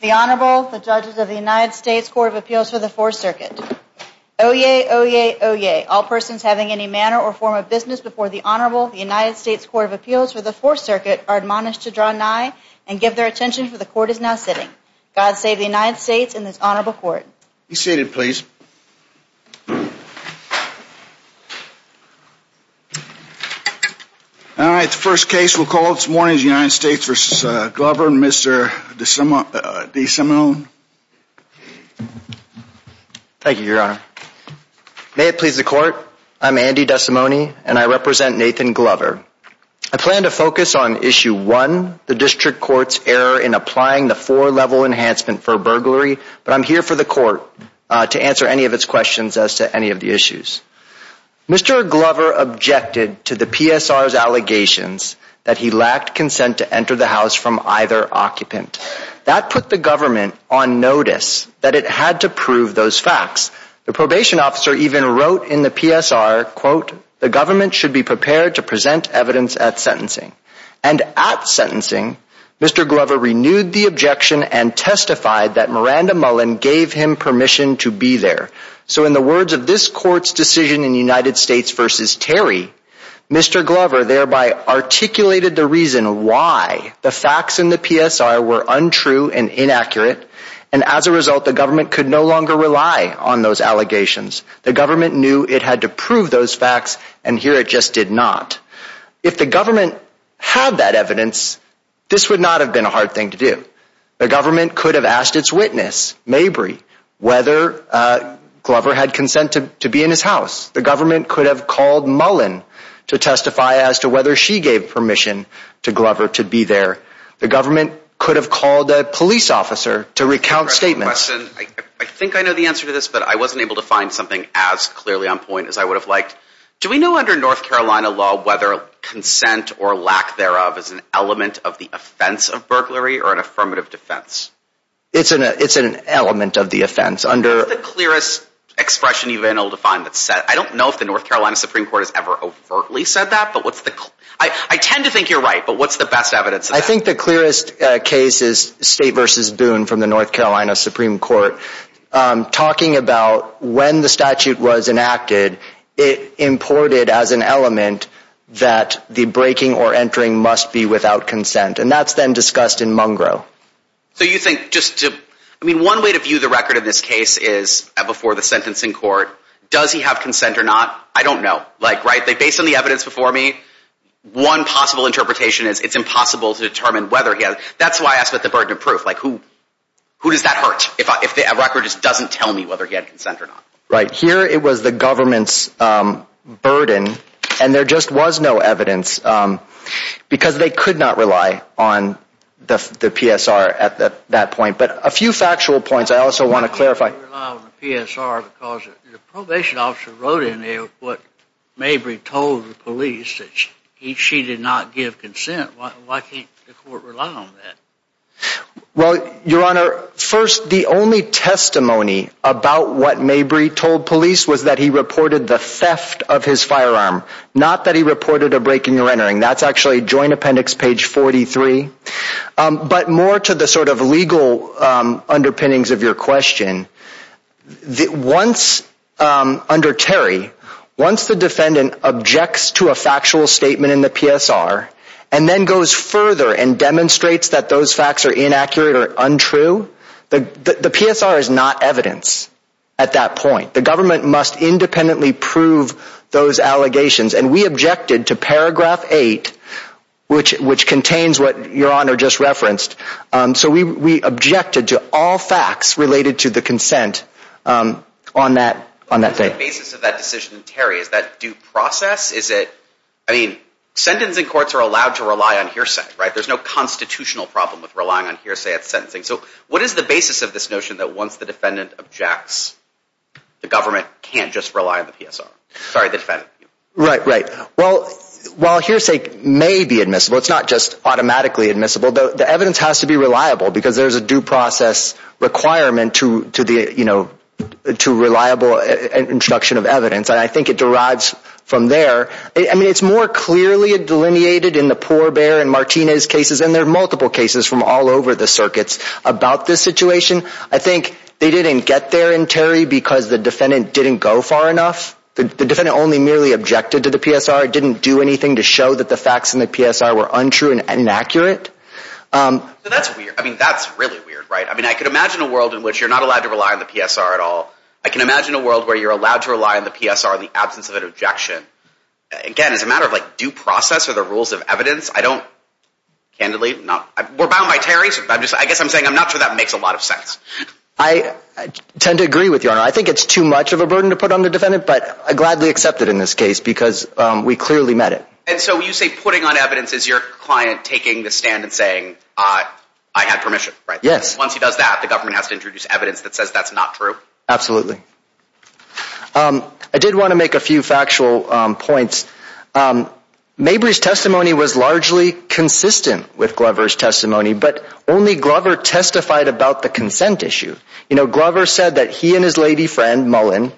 The Honorable, the Judges of the United States Court of Appeals for the Fourth Circuit. Oyez, oyez, oyez, all persons having any manner or form of business before the Honorable, the United States Court of Appeals for the Fourth Circuit, are admonished to draw nigh and give their attention, for the Court is now sitting. God save the United States and this Honorable Court. Be seated, please. All right, the first case we'll call this morning is the United States v. Glover and Mr. DeSimone. Thank you, Your Honor. May it please the Court, I'm Andy DeSimone and I represent Nathan Glover. I plan to focus on Issue 1, the District Court's error in applying the four-level enhancement for burglary, but I'm here for the Court to answer any of its questions as to any of the issues. Mr. Glover objected to the PSR's allegations that he lacked consent to enter the House from either occupant. That put the government on notice that it had to prove those facts. The probation officer even wrote in the PSR, quote, the government should be prepared to present evidence at sentencing. And at sentencing, Mr. Glover renewed the objection and testified that Miranda Mullen gave him permission to be there. So in the words of this Court's decision in United States v. Terry, Mr. Glover thereby articulated the reason why the facts in the PSR were untrue and inaccurate, and as a result, the government could no longer rely on those allegations. The government knew it had to prove those facts, and here it just did not. If the government had that evidence, this would not have been a hard thing to do. The government could have asked its witness, Mabry, whether Glover had consent to be in his house. The government could have called Mullen to testify as to whether she gave permission to Glover to be there. The government could have called a police officer to recount statements. I think I know the answer to this, but I wasn't able to find something as clearly on point as I would have liked. Do we know under North Carolina law whether consent or lack thereof is an element of the offense of burglary or an affirmative defense? It's an element of the offense. What's the clearest expression you've been able to find that's said? I don't know if the North Carolina Supreme Court has ever overtly said that. I tend to think you're right, but what's the best evidence of that? I think the clearest case is State v. Boone from the North Carolina Supreme Court. Talking about when the statute was enacted, it imported as an element that the breaking or entering must be without consent. And that's then discussed in Mungro. So you think just to—I mean, one way to view the record in this case is before the sentencing court. Does he have consent or not? I don't know. Like, right, based on the evidence before me, one possible interpretation is it's impossible to determine whether he has— That's why I asked about the burden of proof. Like, who does that hurt if a record just doesn't tell me whether he had consent or not? Right. Here it was the government's burden, and there just was no evidence because they could not rely on the PSR at that point. But a few factual points I also want to clarify. Why can't they rely on the PSR? Because the probation officer wrote in there what Mabry told the police, that she did not give consent. Why can't the court rely on that? Well, Your Honor, first, the only testimony about what Mabry told police was that he reported the theft of his firearm, not that he reported a breaking or entering. That's actually Joint Appendix page 43. But more to the sort of legal underpinnings of your question, once—under Terry, once the defendant objects to a factual statement in the PSR and then goes further and demonstrates that those facts are inaccurate or untrue, the PSR is not evidence at that point. The government must independently prove those allegations. And we objected to paragraph 8, which contains what Your Honor just referenced. So we objected to all facts related to the consent on that day. What is the basic basis of that decision in Terry? Is that due process? Is it—I mean, sentencing courts are allowed to rely on hearsay, right? There's no constitutional problem with relying on hearsay at sentencing. So what is the basis of this notion that once the defendant objects, the government can't just rely on the PSR? Sorry, the defendant. Right, right. Well, while hearsay may be admissible, it's not just automatically admissible, the evidence has to be reliable because there's a due process requirement to reliable introduction of evidence. And I think it derives from there. I mean, it's more clearly delineated in the Pourbaix and Martinez cases, and there are multiple cases from all over the circuits about this situation. I think they didn't get there in Terry because the defendant didn't go far enough. The defendant only merely objected to the PSR, didn't do anything to show that the facts in the PSR were untrue and inaccurate. So that's weird. I mean, that's really weird, right? I mean, I could imagine a world in which you're not allowed to rely on the PSR at all. I can imagine a world where you're allowed to rely on the PSR in the absence of an objection. Again, as a matter of, like, due process or the rules of evidence, I don't—candidly, not—we're bound by Terry, so I guess I'm saying I'm not sure that makes a lot of sense. I tend to agree with you on that. I think it's too much of a burden to put on the defendant, but I gladly accept it in this case because we clearly met it. And so you say putting on evidence is your client taking the stand and saying, I had permission, right? Yes. Once he does that, the government has to introduce evidence that says that's not true? Absolutely. I did want to make a few factual points. Mabry's testimony was largely consistent with Glover's testimony, but only Glover testified about the consent issue. You know, Glover said that he and his lady friend, Mullen,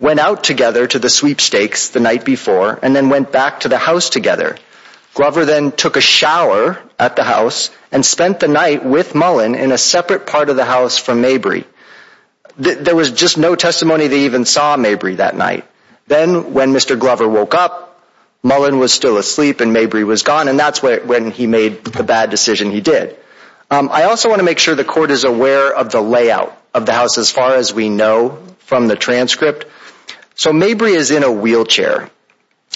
went out together to the sweepstakes the night before and then went back to the house together. Glover then took a shower at the house and spent the night with Mullen in a separate part of the house from Mabry. There was just no testimony they even saw Mabry that night. Then, when Mr. Glover woke up, Mullen was still asleep and Mabry was gone, and that's when he made the bad decision he did. I also want to make sure the court is aware of the layout of the house as far as we know from the transcript. So Mabry is in a wheelchair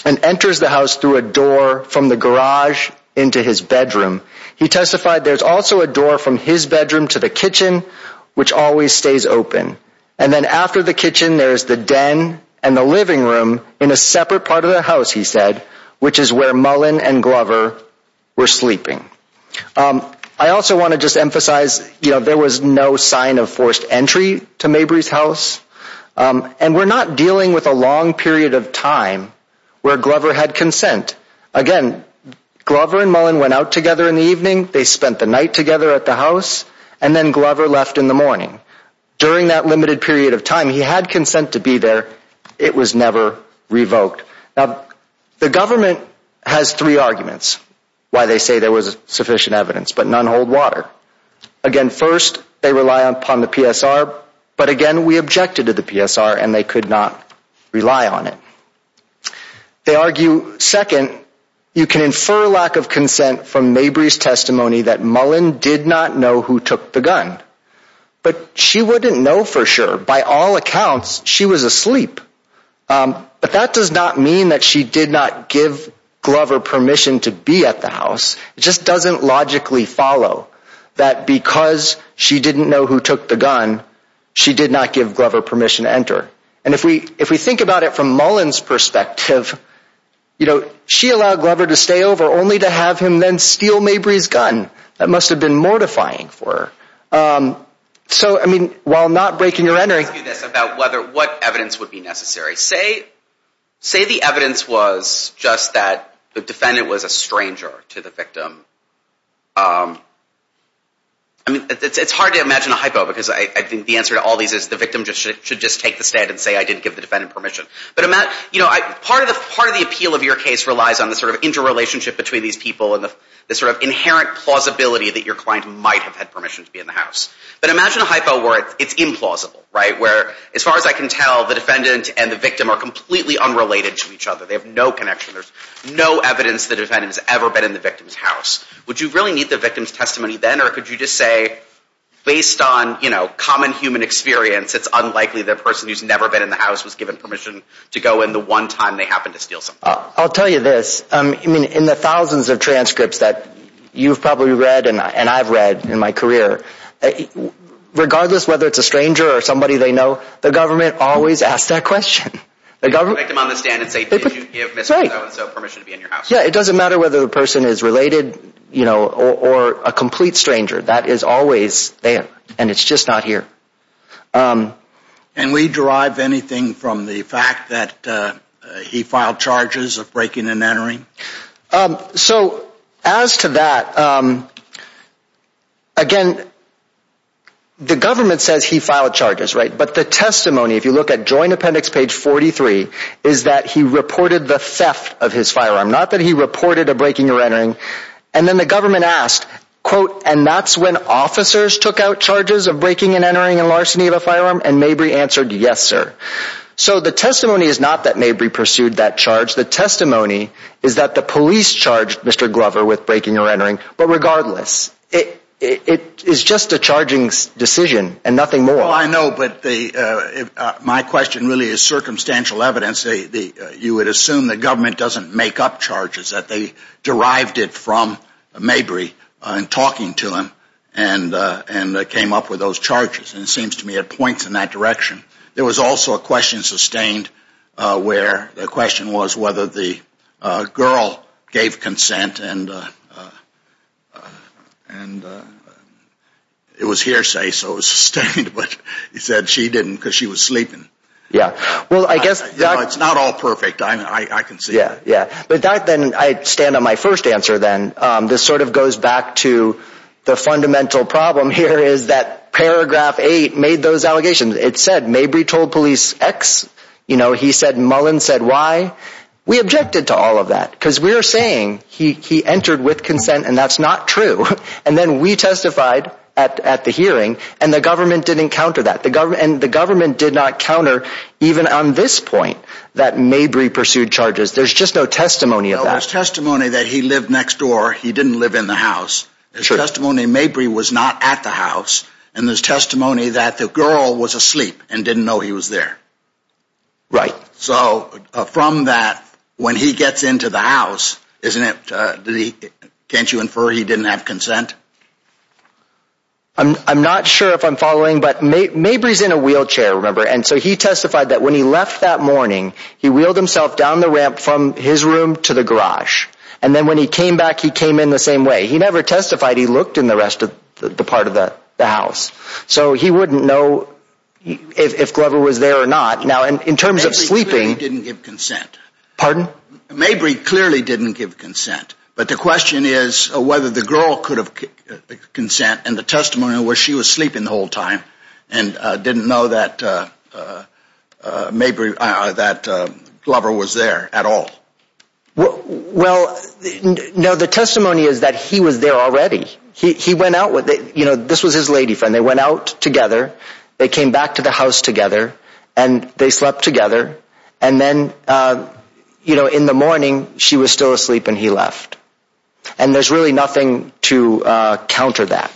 and enters the house through a door from the garage into his bedroom. He testified there's also a door from his bedroom to the kitchen, which always stays open. And then after the kitchen, there's the den and the living room in a separate part of the house, he said, which is where Mullen and Glover were sleeping. I also want to just emphasize, you know, there was no sign of forced entry to Mabry's house. And we're not dealing with a long period of time where Glover had consent. Again, Glover and Mullen went out together in the evening, they spent the night together at the house, and then Glover left in the morning. During that limited period of time, he had consent to be there. It was never revoked. The government has three arguments why they say there was sufficient evidence, but none hold water. Again, first, they rely upon the PSR. But again, we objected to the PSR and they could not rely on it. They argue, second, you can infer lack of consent from Mabry's testimony that Mullen did not know who took the gun. But she wouldn't know for sure. By all accounts, she was asleep. But that does not mean that she did not give Glover permission to be at the house. It just doesn't logically follow that because she didn't know who took the gun, she did not give Glover permission to enter. And if we think about it from Mullen's perspective, you know, she allowed Glover to stay over only to have him then steal Mabry's gun. That must have been mortifying for her. So, I mean, while I'm not breaking or entering. Let me ask you this about what evidence would be necessary. Say the evidence was just that the defendant was a stranger to the victim. I mean, it's hard to imagine a hypo because I think the answer to all these is the victim should just take the stand and say, I didn't give the defendant permission. Part of the appeal of your case relies on the sort of interrelationship between these people and the sort of inherent plausibility that your client might have had permission to be in the house. But imagine a hypo where it's implausible, right? Where, as far as I can tell, the defendant and the victim are completely unrelated to each other. They have no connection. There's no evidence the defendant has ever been in the victim's house. Would you really need the victim's testimony then? Or could you just say, based on, you know, common human experience, it's unlikely the person who's never been in the house was given permission to go in the one time they happened to steal something? I'll tell you this. I mean, in the thousands of transcripts that you've probably read and I've read in my career, regardless whether it's a stranger or somebody they know, the government always asks that question. The government... The victim on the stand and say, did you give Mr. So-and-so permission to be in your house? Yeah, it doesn't matter whether the person is related, you know, or a complete stranger. That is always there. And it's just not here. And we derive anything from the fact that he filed charges of breaking and entering? So, as to that, again, the government says he filed charges, right? But the testimony, if you look at Joint Appendix page 43, is that he reported the theft of his firearm. Not that he reported a breaking or entering. And then the government asked, quote, and that's when officers took out charges of breaking and entering and larceny of a firearm? And Mabry answered, yes, sir. So the testimony is not that Mabry pursued that charge. The testimony is that the police charged Mr. Glover with breaking or entering. But regardless, it is just a charging decision and nothing more. Well, I know, but my question really is circumstantial evidence. You would assume the government doesn't make up charges, that they derived it from Mabry in talking to him and came up with those charges. And it seems to me it points in that direction. There was also a question sustained where the question was whether the girl gave consent. And it was hearsay, so it was sustained. But you said she didn't because she was sleeping. It's not all perfect. I can see that. But I stand on my first answer then. This sort of goes back to the fundamental problem here is that paragraph 8 made those allegations. It said Mabry told police X. He said Mullen said Y. We objected to all of that because we are saying he entered with consent and that's not true. And then we testified at the hearing and the government didn't counter that. And the government did not counter even on this point that Mabry pursued charges. There's just no testimony of that. There's testimony that he lived next door. He didn't live in the house. There's testimony Mabry was not at the house. And there's testimony that the girl was asleep and didn't know he was there. Right. So from that, when he gets into the house, can't you infer he didn't have consent? I'm not sure if I'm following, but Mabry's in a wheelchair, remember? And so he testified that when he left that morning, he wheeled himself down the ramp from his room to the garage. And then when he came back, he came in the same way. He never testified. He looked in the rest of the part of the house. So he wouldn't know if Glover was there or not. Now, in terms of sleeping. Mabry clearly didn't give consent. Pardon? Mabry clearly didn't give consent. But the question is whether the girl could have consent and the testimony where she was sleeping the whole time and didn't know that Glover was there at all. Well, no. The testimony is that he was there already. He went out with it. You know, this was his lady friend. They went out together. They came back to the house together. And they slept together. And then, you know, in the morning, she was still asleep and he left. And there's really nothing to counter that.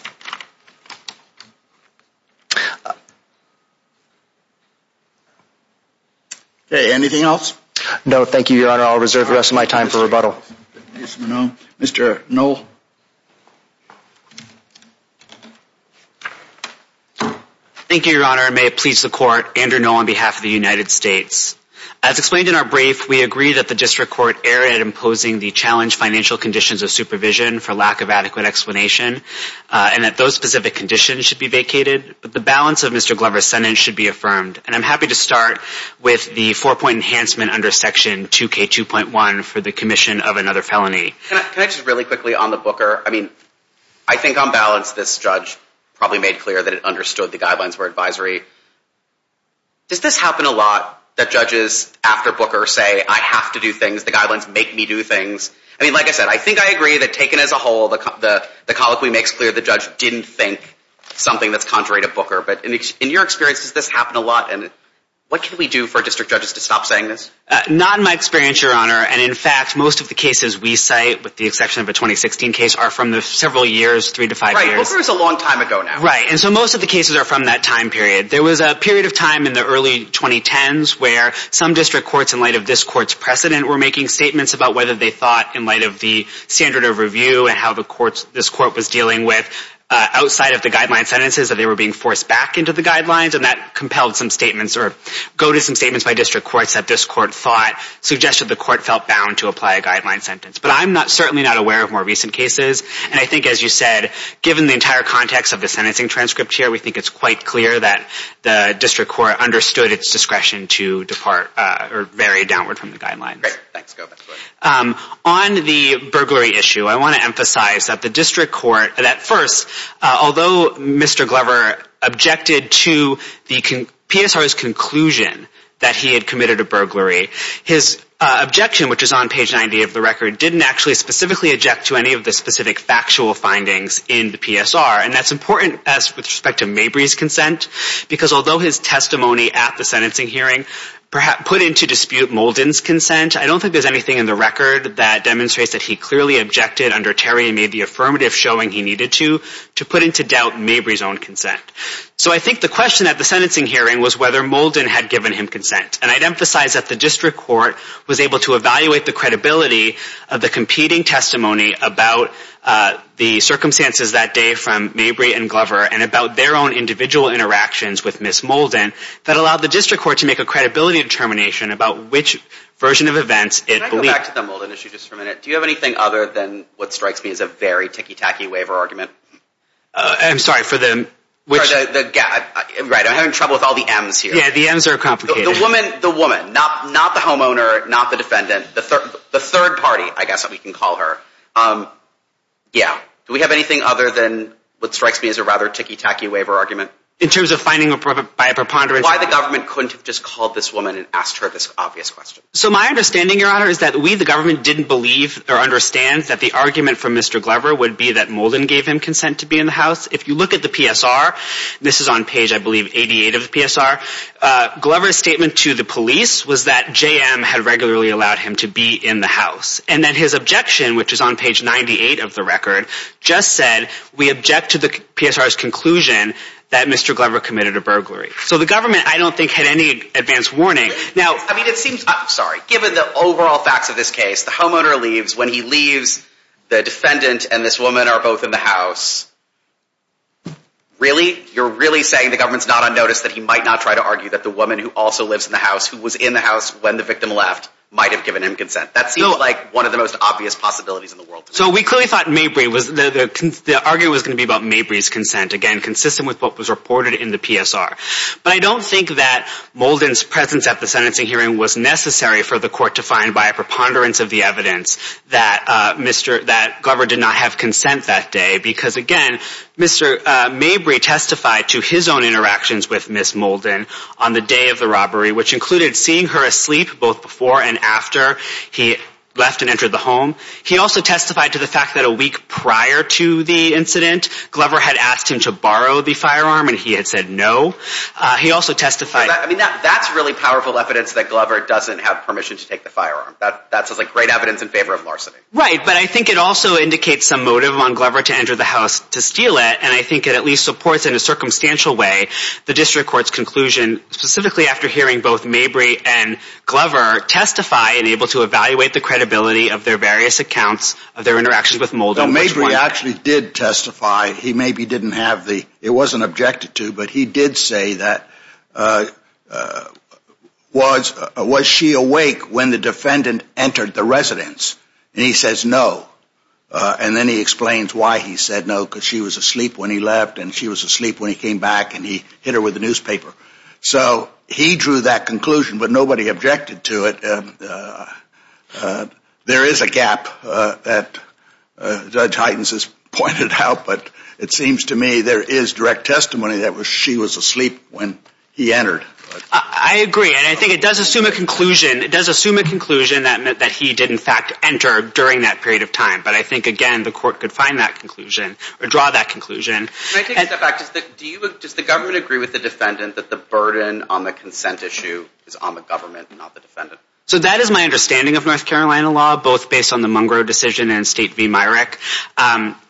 Anything else? No, thank you, Your Honor. I'll reserve the rest of my time for rebuttal. Mr. Noll. Thank you, Your Honor. Your Honor, may it please the court, Andrew Noll on behalf of the United States. As explained in our brief, we agree that the district court erred at imposing the challenged financial conditions of supervision for lack of adequate explanation. And that those specific conditions should be vacated. But the balance of Mr. Glover's sentence should be affirmed. And I'm happy to start with the four-point enhancement under Section 2K2.1 for the commission of another felony. Can I just really quickly on the Booker? I mean, I think on balance this judge probably made clear that it understood the guidelines were advisory. Does this happen a lot that judges after Booker say, I have to do things, the guidelines make me do things? I mean, like I said, I think I agree that taken as a whole, the colloquy makes clear the judge didn't think something that's contrary to Booker. But in your experience, does this happen a lot? And what can we do for district judges to stop saying this? Not in my experience, Your Honor. And in fact, most of the cases we cite, with the exception of a 2016 case, are from the several years, three to five years. Right. Booker is a long time ago now. Right. And so most of the cases are from that time period. There was a period of time in the early 2010s where some district courts, in light of this court's precedent, were making statements about whether they thought, in light of the standard of review and how this court was dealing with outside of the guideline sentences, that they were being forced back into the guidelines. And that compelled some statements, or goaded some statements by district courts that this court thought, suggested the court felt bound to apply a guideline sentence. But I'm certainly not aware of more recent cases. And I think, as you said, given the entire context of the sentencing transcript here, we think it's quite clear that the district court understood its discretion to depart, or vary downward from the guidelines. Great. Thanks. Go ahead. On the burglary issue, I want to emphasize that the district court, that first, although Mr. Glover objected to the PSR's conclusion that he had committed a burglary, his objection, which is on page 90 of the record, didn't actually specifically object to any of the specific factual findings in the PSR. And that's important with respect to Mabry's consent, because although his testimony at the sentencing hearing put into dispute Molden's consent, I don't think there's anything in the record that demonstrates that he clearly objected under Terry and made the affirmative, showing he needed to, to put into doubt Mabry's own consent. So I think the question at the sentencing hearing was whether Molden had given him consent. And I'd emphasize that the district court was able to evaluate the credibility of the competing testimony about the circumstances that day from Mabry and Glover, and about their own individual interactions with Ms. Molden, that allowed the district court to make a credibility determination about which version of events it believed. Can I go back to the Molden issue just for a minute? Do you have anything other than what strikes me as a very ticky-tacky waiver argument? I'm sorry, for the, which? Right, I'm having trouble with all the M's here. Yeah, the M's are complicated. The woman, the woman, not the homeowner, not the defendant, the third party, I guess that we can call her. Yeah, do we have anything other than what strikes me as a rather ticky-tacky waiver argument? In terms of finding by a preponderance. Why the government couldn't have just called this woman and asked her this obvious question. So my understanding, Your Honor, is that we, the government, didn't believe or understand that the argument from Mr. Glover would be that Molden gave him consent to be in the house. If you look at the PSR, this is on page, I believe, 88 of the PSR, Glover's statement to the police was that JM had regularly allowed him to be in the house. And that his objection, which is on page 98 of the record, just said, we object to the PSR's conclusion that Mr. Glover committed a burglary. So the government, I don't think, had any advance warning. Now, I mean, it seems, I'm sorry, given the overall facts of this case, the homeowner leaves, when he leaves, the defendant and this woman are both in the house. Really? You're really saying the government's not on notice that he might not try to argue that the woman who also lives in the house, who was in the house when the victim left, might have given him consent? That seems like one of the most obvious possibilities in the world. So we clearly thought Mabry, the argument was going to be about Mabry's consent, again, consistent with what was reported in the PSR. But I don't think that Molden's presence at the sentencing hearing was necessary for the court to find by a preponderance of the evidence that Glover did not have consent that day. Because, again, Mr. Mabry testified to his own interactions with Ms. Molden on the day of the robbery, which included seeing her asleep both before and after he left and entered the home. He also testified to the fact that a week prior to the incident, Glover had asked him to borrow the firearm, and he had said no. He also testified... I mean, that's really powerful evidence that Glover doesn't have permission to take the firearm. That's great evidence in favor of larceny. Right, but I think it also indicates some motive on Glover to enter the house to steal it, and I think it at least supports in a circumstantial way the district court's conclusion, specifically after hearing both Mabry and Glover testify and able to evaluate the credibility of their various accounts, of their interactions with Molden. No, Mabry actually did testify. He maybe didn't have the... It wasn't objected to, but he did say that... Was she awake when the defendant entered the residence? And he says no. And then he explains why he said no, because she was asleep when he left, and she was asleep when he came back, and he hit her with the newspaper. So he drew that conclusion, but nobody objected to it. There is a gap that Judge Heitens has pointed out, but it seems to me there is direct testimony that she was asleep when he entered. I agree, and I think it does assume a conclusion. It does assume a conclusion that he did, in fact, enter during that period of time. But I think, again, the court could find that conclusion or draw that conclusion. Can I take a step back? Does the government agree with the defendant that the burden on the consent issue is on the government, not the defendant? So that is my understanding of North Carolina law, both based on the Mungro decision and State v. Myrick.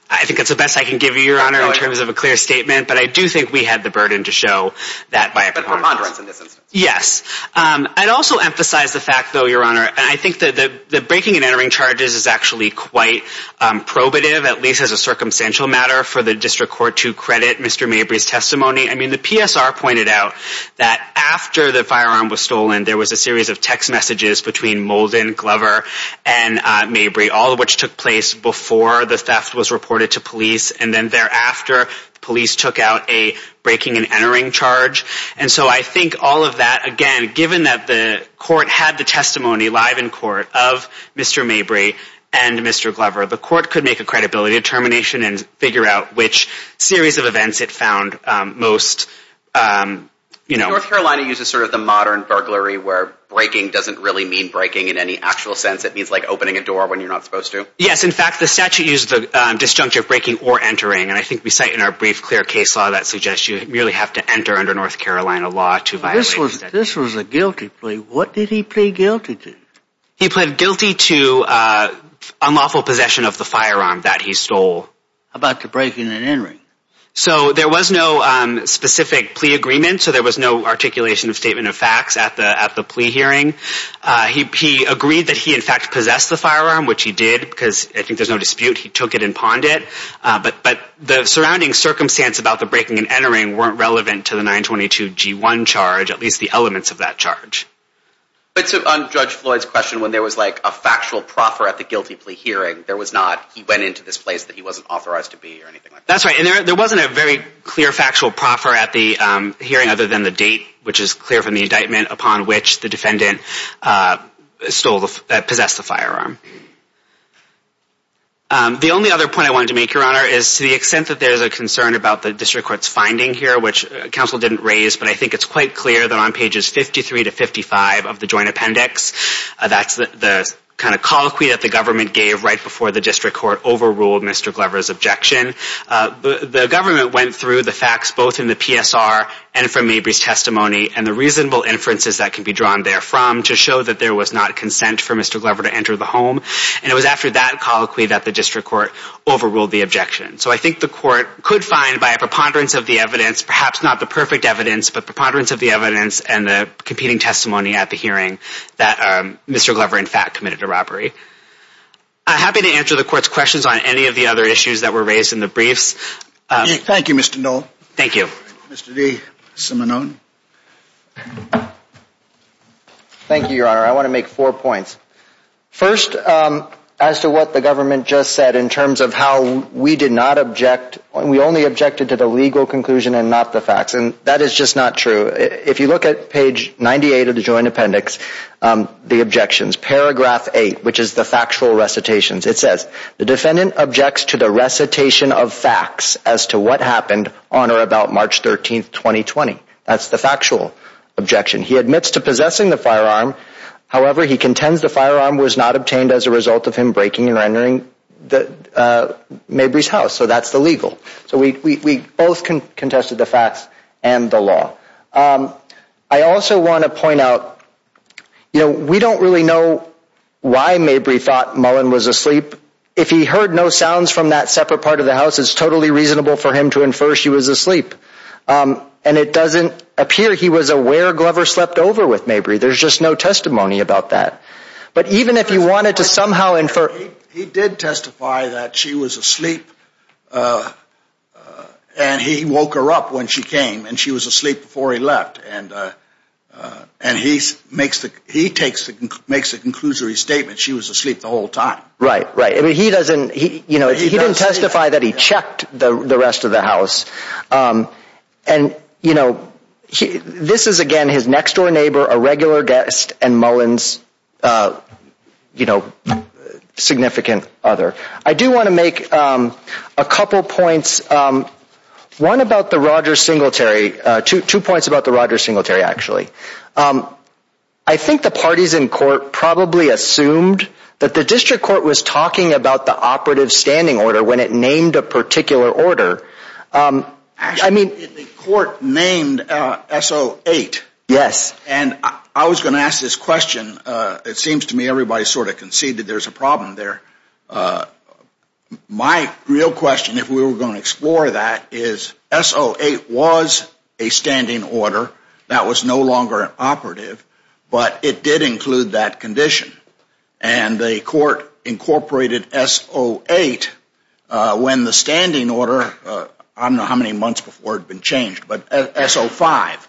I think that's the best I can give you, Your Honor, in terms of a clear statement, but I do think we had the burden to show that by a... But her monitoring is in this instance. Yes. I'd also emphasize the fact, though, Your Honor, and I think that the breaking and entering charges is actually quite probative, at least as a circumstantial matter, for the District Court to credit Mr. Mabry's testimony. I mean, the PSR pointed out that after the firearm was stolen, there was a series of text messages between Molden, Glover, and Mabry, all of which took place before the theft was reported to police, and then thereafter, police took out a breaking and entering charge. And so I think all of that, again, given that the court had the testimony live in court of Mr. Mabry and Mr. Glover, the court could make a credibility determination and figure out which series of events it found most, you know... North Carolina uses sort of the modern burglary where breaking doesn't really mean breaking in any actual sense. It means like opening a door when you're not supposed to. Yes. In fact, the statute used the disjunctive breaking or entering, and I think we cite in our brief clear case law that suggests you merely have to enter under North Carolina law to violate the statute. This was a guilty plea. What did he plead guilty to? He pleaded guilty to unlawful possession of the firearm that he stole. How about the breaking and entering? So there was no specific plea agreement, so there was no articulation of statement of facts at the plea hearing. He agreed that he, in fact, possessed the firearm, which he did, because I think there's no dispute. He took it and pawned it, but the surrounding circumstance about the breaking and entering weren't relevant to the 922-G1 charge, at least the elements of that charge. But so on Judge Floyd's question, when there was like a factual proffer at the guilty plea hearing, there was not, he went into this place that he wasn't authorized to be or anything like that. That's right, and there wasn't a very clear factual proffer at the hearing other than the date, which is clear from the indictment, upon which the defendant stole, possessed the firearm. The only other point I wanted to make, Your Honor, is to the extent that there's a concern about the district court's finding here, which counsel didn't raise, but I think it's quite clear that on pages 53 to 55 of the joint appendix, that's the kind of colloquy that the government gave right before the district court overruled Mr. Glover's objection. The government went through the facts both in the PSR and from Mabry's testimony and the reasonable inferences that can be drawn therefrom to show that there was not consent for Mr. Glover to enter the home, and it was after that colloquy that the district court overruled the objection. So I think the court could find by a preponderance of the evidence, perhaps not the perfect evidence, but preponderance of the evidence and the competing testimony at the hearing that Mr. Glover in fact committed a robbery. I'm happy to answer the court's questions on any of the other issues that were raised in the briefs. Thank you, Mr. Noll. Thank you. Mr. D. Simonone. Thank you, Your Honor. I want to make four points. First, as to what the government just said in terms of how we did not object, we only objected to the legal conclusion and not the facts, and that is just not true. If you look at page 98 of the joint appendix, the objections, paragraph 8, which is the factual recitations, it says the defendant objects to the recitation of facts as to what happened on or about March 13, 2020. That's the factual objection. He admits to possessing the firearm. However, he contends the firearm was not obtained as a result of him breaking and rendering Mabry's house. So that's the legal. So we both contested the facts and the law. I also want to point out, you know, we don't really know why Mabry thought Mullen was asleep. If he heard no sounds from that separate part of the house, it's totally reasonable for him to infer she was asleep. And it doesn't appear he was aware Glover slept over with Mabry. There's just no testimony about that. But even if he wanted to somehow infer... He did testify that she was asleep, and he woke her up when she came, and she was asleep before he left. And he makes the conclusory statement she was asleep the whole time. Right, right. He didn't testify that he checked the rest of the house. And, you know, this is, again, his next-door neighbor, a regular guest, and Mullen's significant other. I do want to make a couple points. One about the Rogers Singletary. Two points about the Rogers Singletary, actually. I think the parties in court probably assumed that the district court was talking about the operative standing order when it named a particular order. Actually, the court named SO8. Yes. And I was going to ask this question. It seems to me everybody sort of conceded there's a problem there. My real question, if we were going to explore that, is SO8 was a standing order that was no longer operative. But it did include that condition. And the court incorporated SO8 when the standing order... I don't know how many months before it had been changed, but SO5.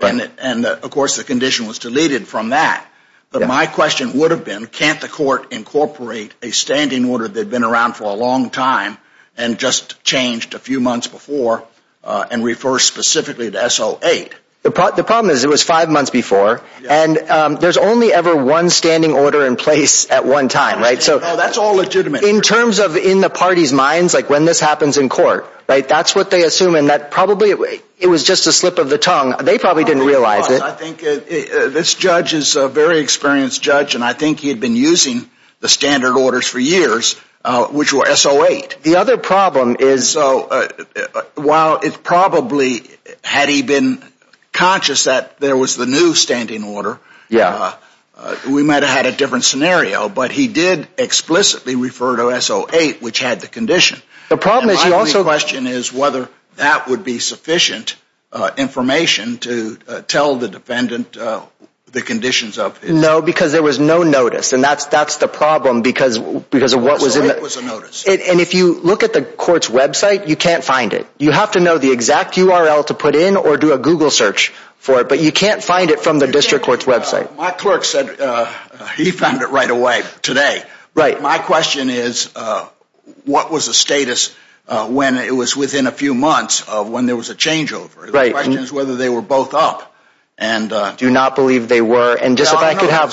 And, of course, the condition was deleted from that. But my question would have been, can't the court incorporate a standing order that had been around for a long time and just changed a few months before and refers specifically to SO8? The problem is it was five months before. And there's only ever one standing order in place at one time. Oh, that's all legitimate. In terms of in the party's minds, like when this happens in court, that's what they assume. And probably it was just a slip of the tongue. They probably didn't realize it. I think this judge is a very experienced judge. And I think he had been using the standard orders for years, which were SO8. The other problem is while it probably had he been conscious that there was the new standing order, we might have had a different scenario. But he did explicitly refer to SO8, which had the condition. My only question is whether that would be sufficient information to tell the defendant the conditions of SO8. No, because there was no notice. And that's the problem because of what was in it. SO8 was a notice. And if you look at the court's website, you can't find it. You have to know the exact URL to put in or do a Google search for it. But you can't find it from the district court's website. My clerk said he found it right away today. My question is, what was the status when it was within a few months of when there was a changeover? The question is whether they were both up. I do not believe they were. There's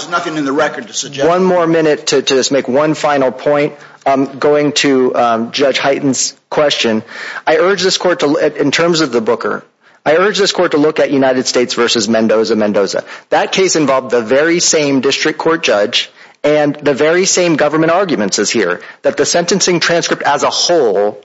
nothing in the record to suggest that. One more minute to just make one final point. I'm going to Judge Hyten's question. In terms of the Booker, I urge this court to look at United States v. Mendoza-Mendoza. That case involved the very same district court judge and the very same government arguments as here, that the sentencing transcript as a whole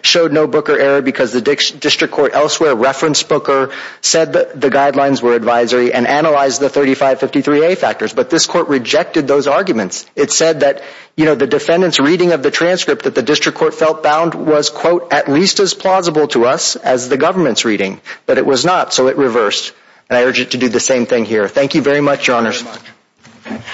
showed no Booker error because the district court elsewhere referenced Booker, said the guidelines were advisory, and analyzed the 3553A factors. But this court rejected those arguments. It said that the defendant's reading of the transcript that the district court felt bound was, quote, at least as plausible to us as the government's reading. But it was not, so it reversed. And I urge it to do the same thing here. Thank you very much, Your Honor.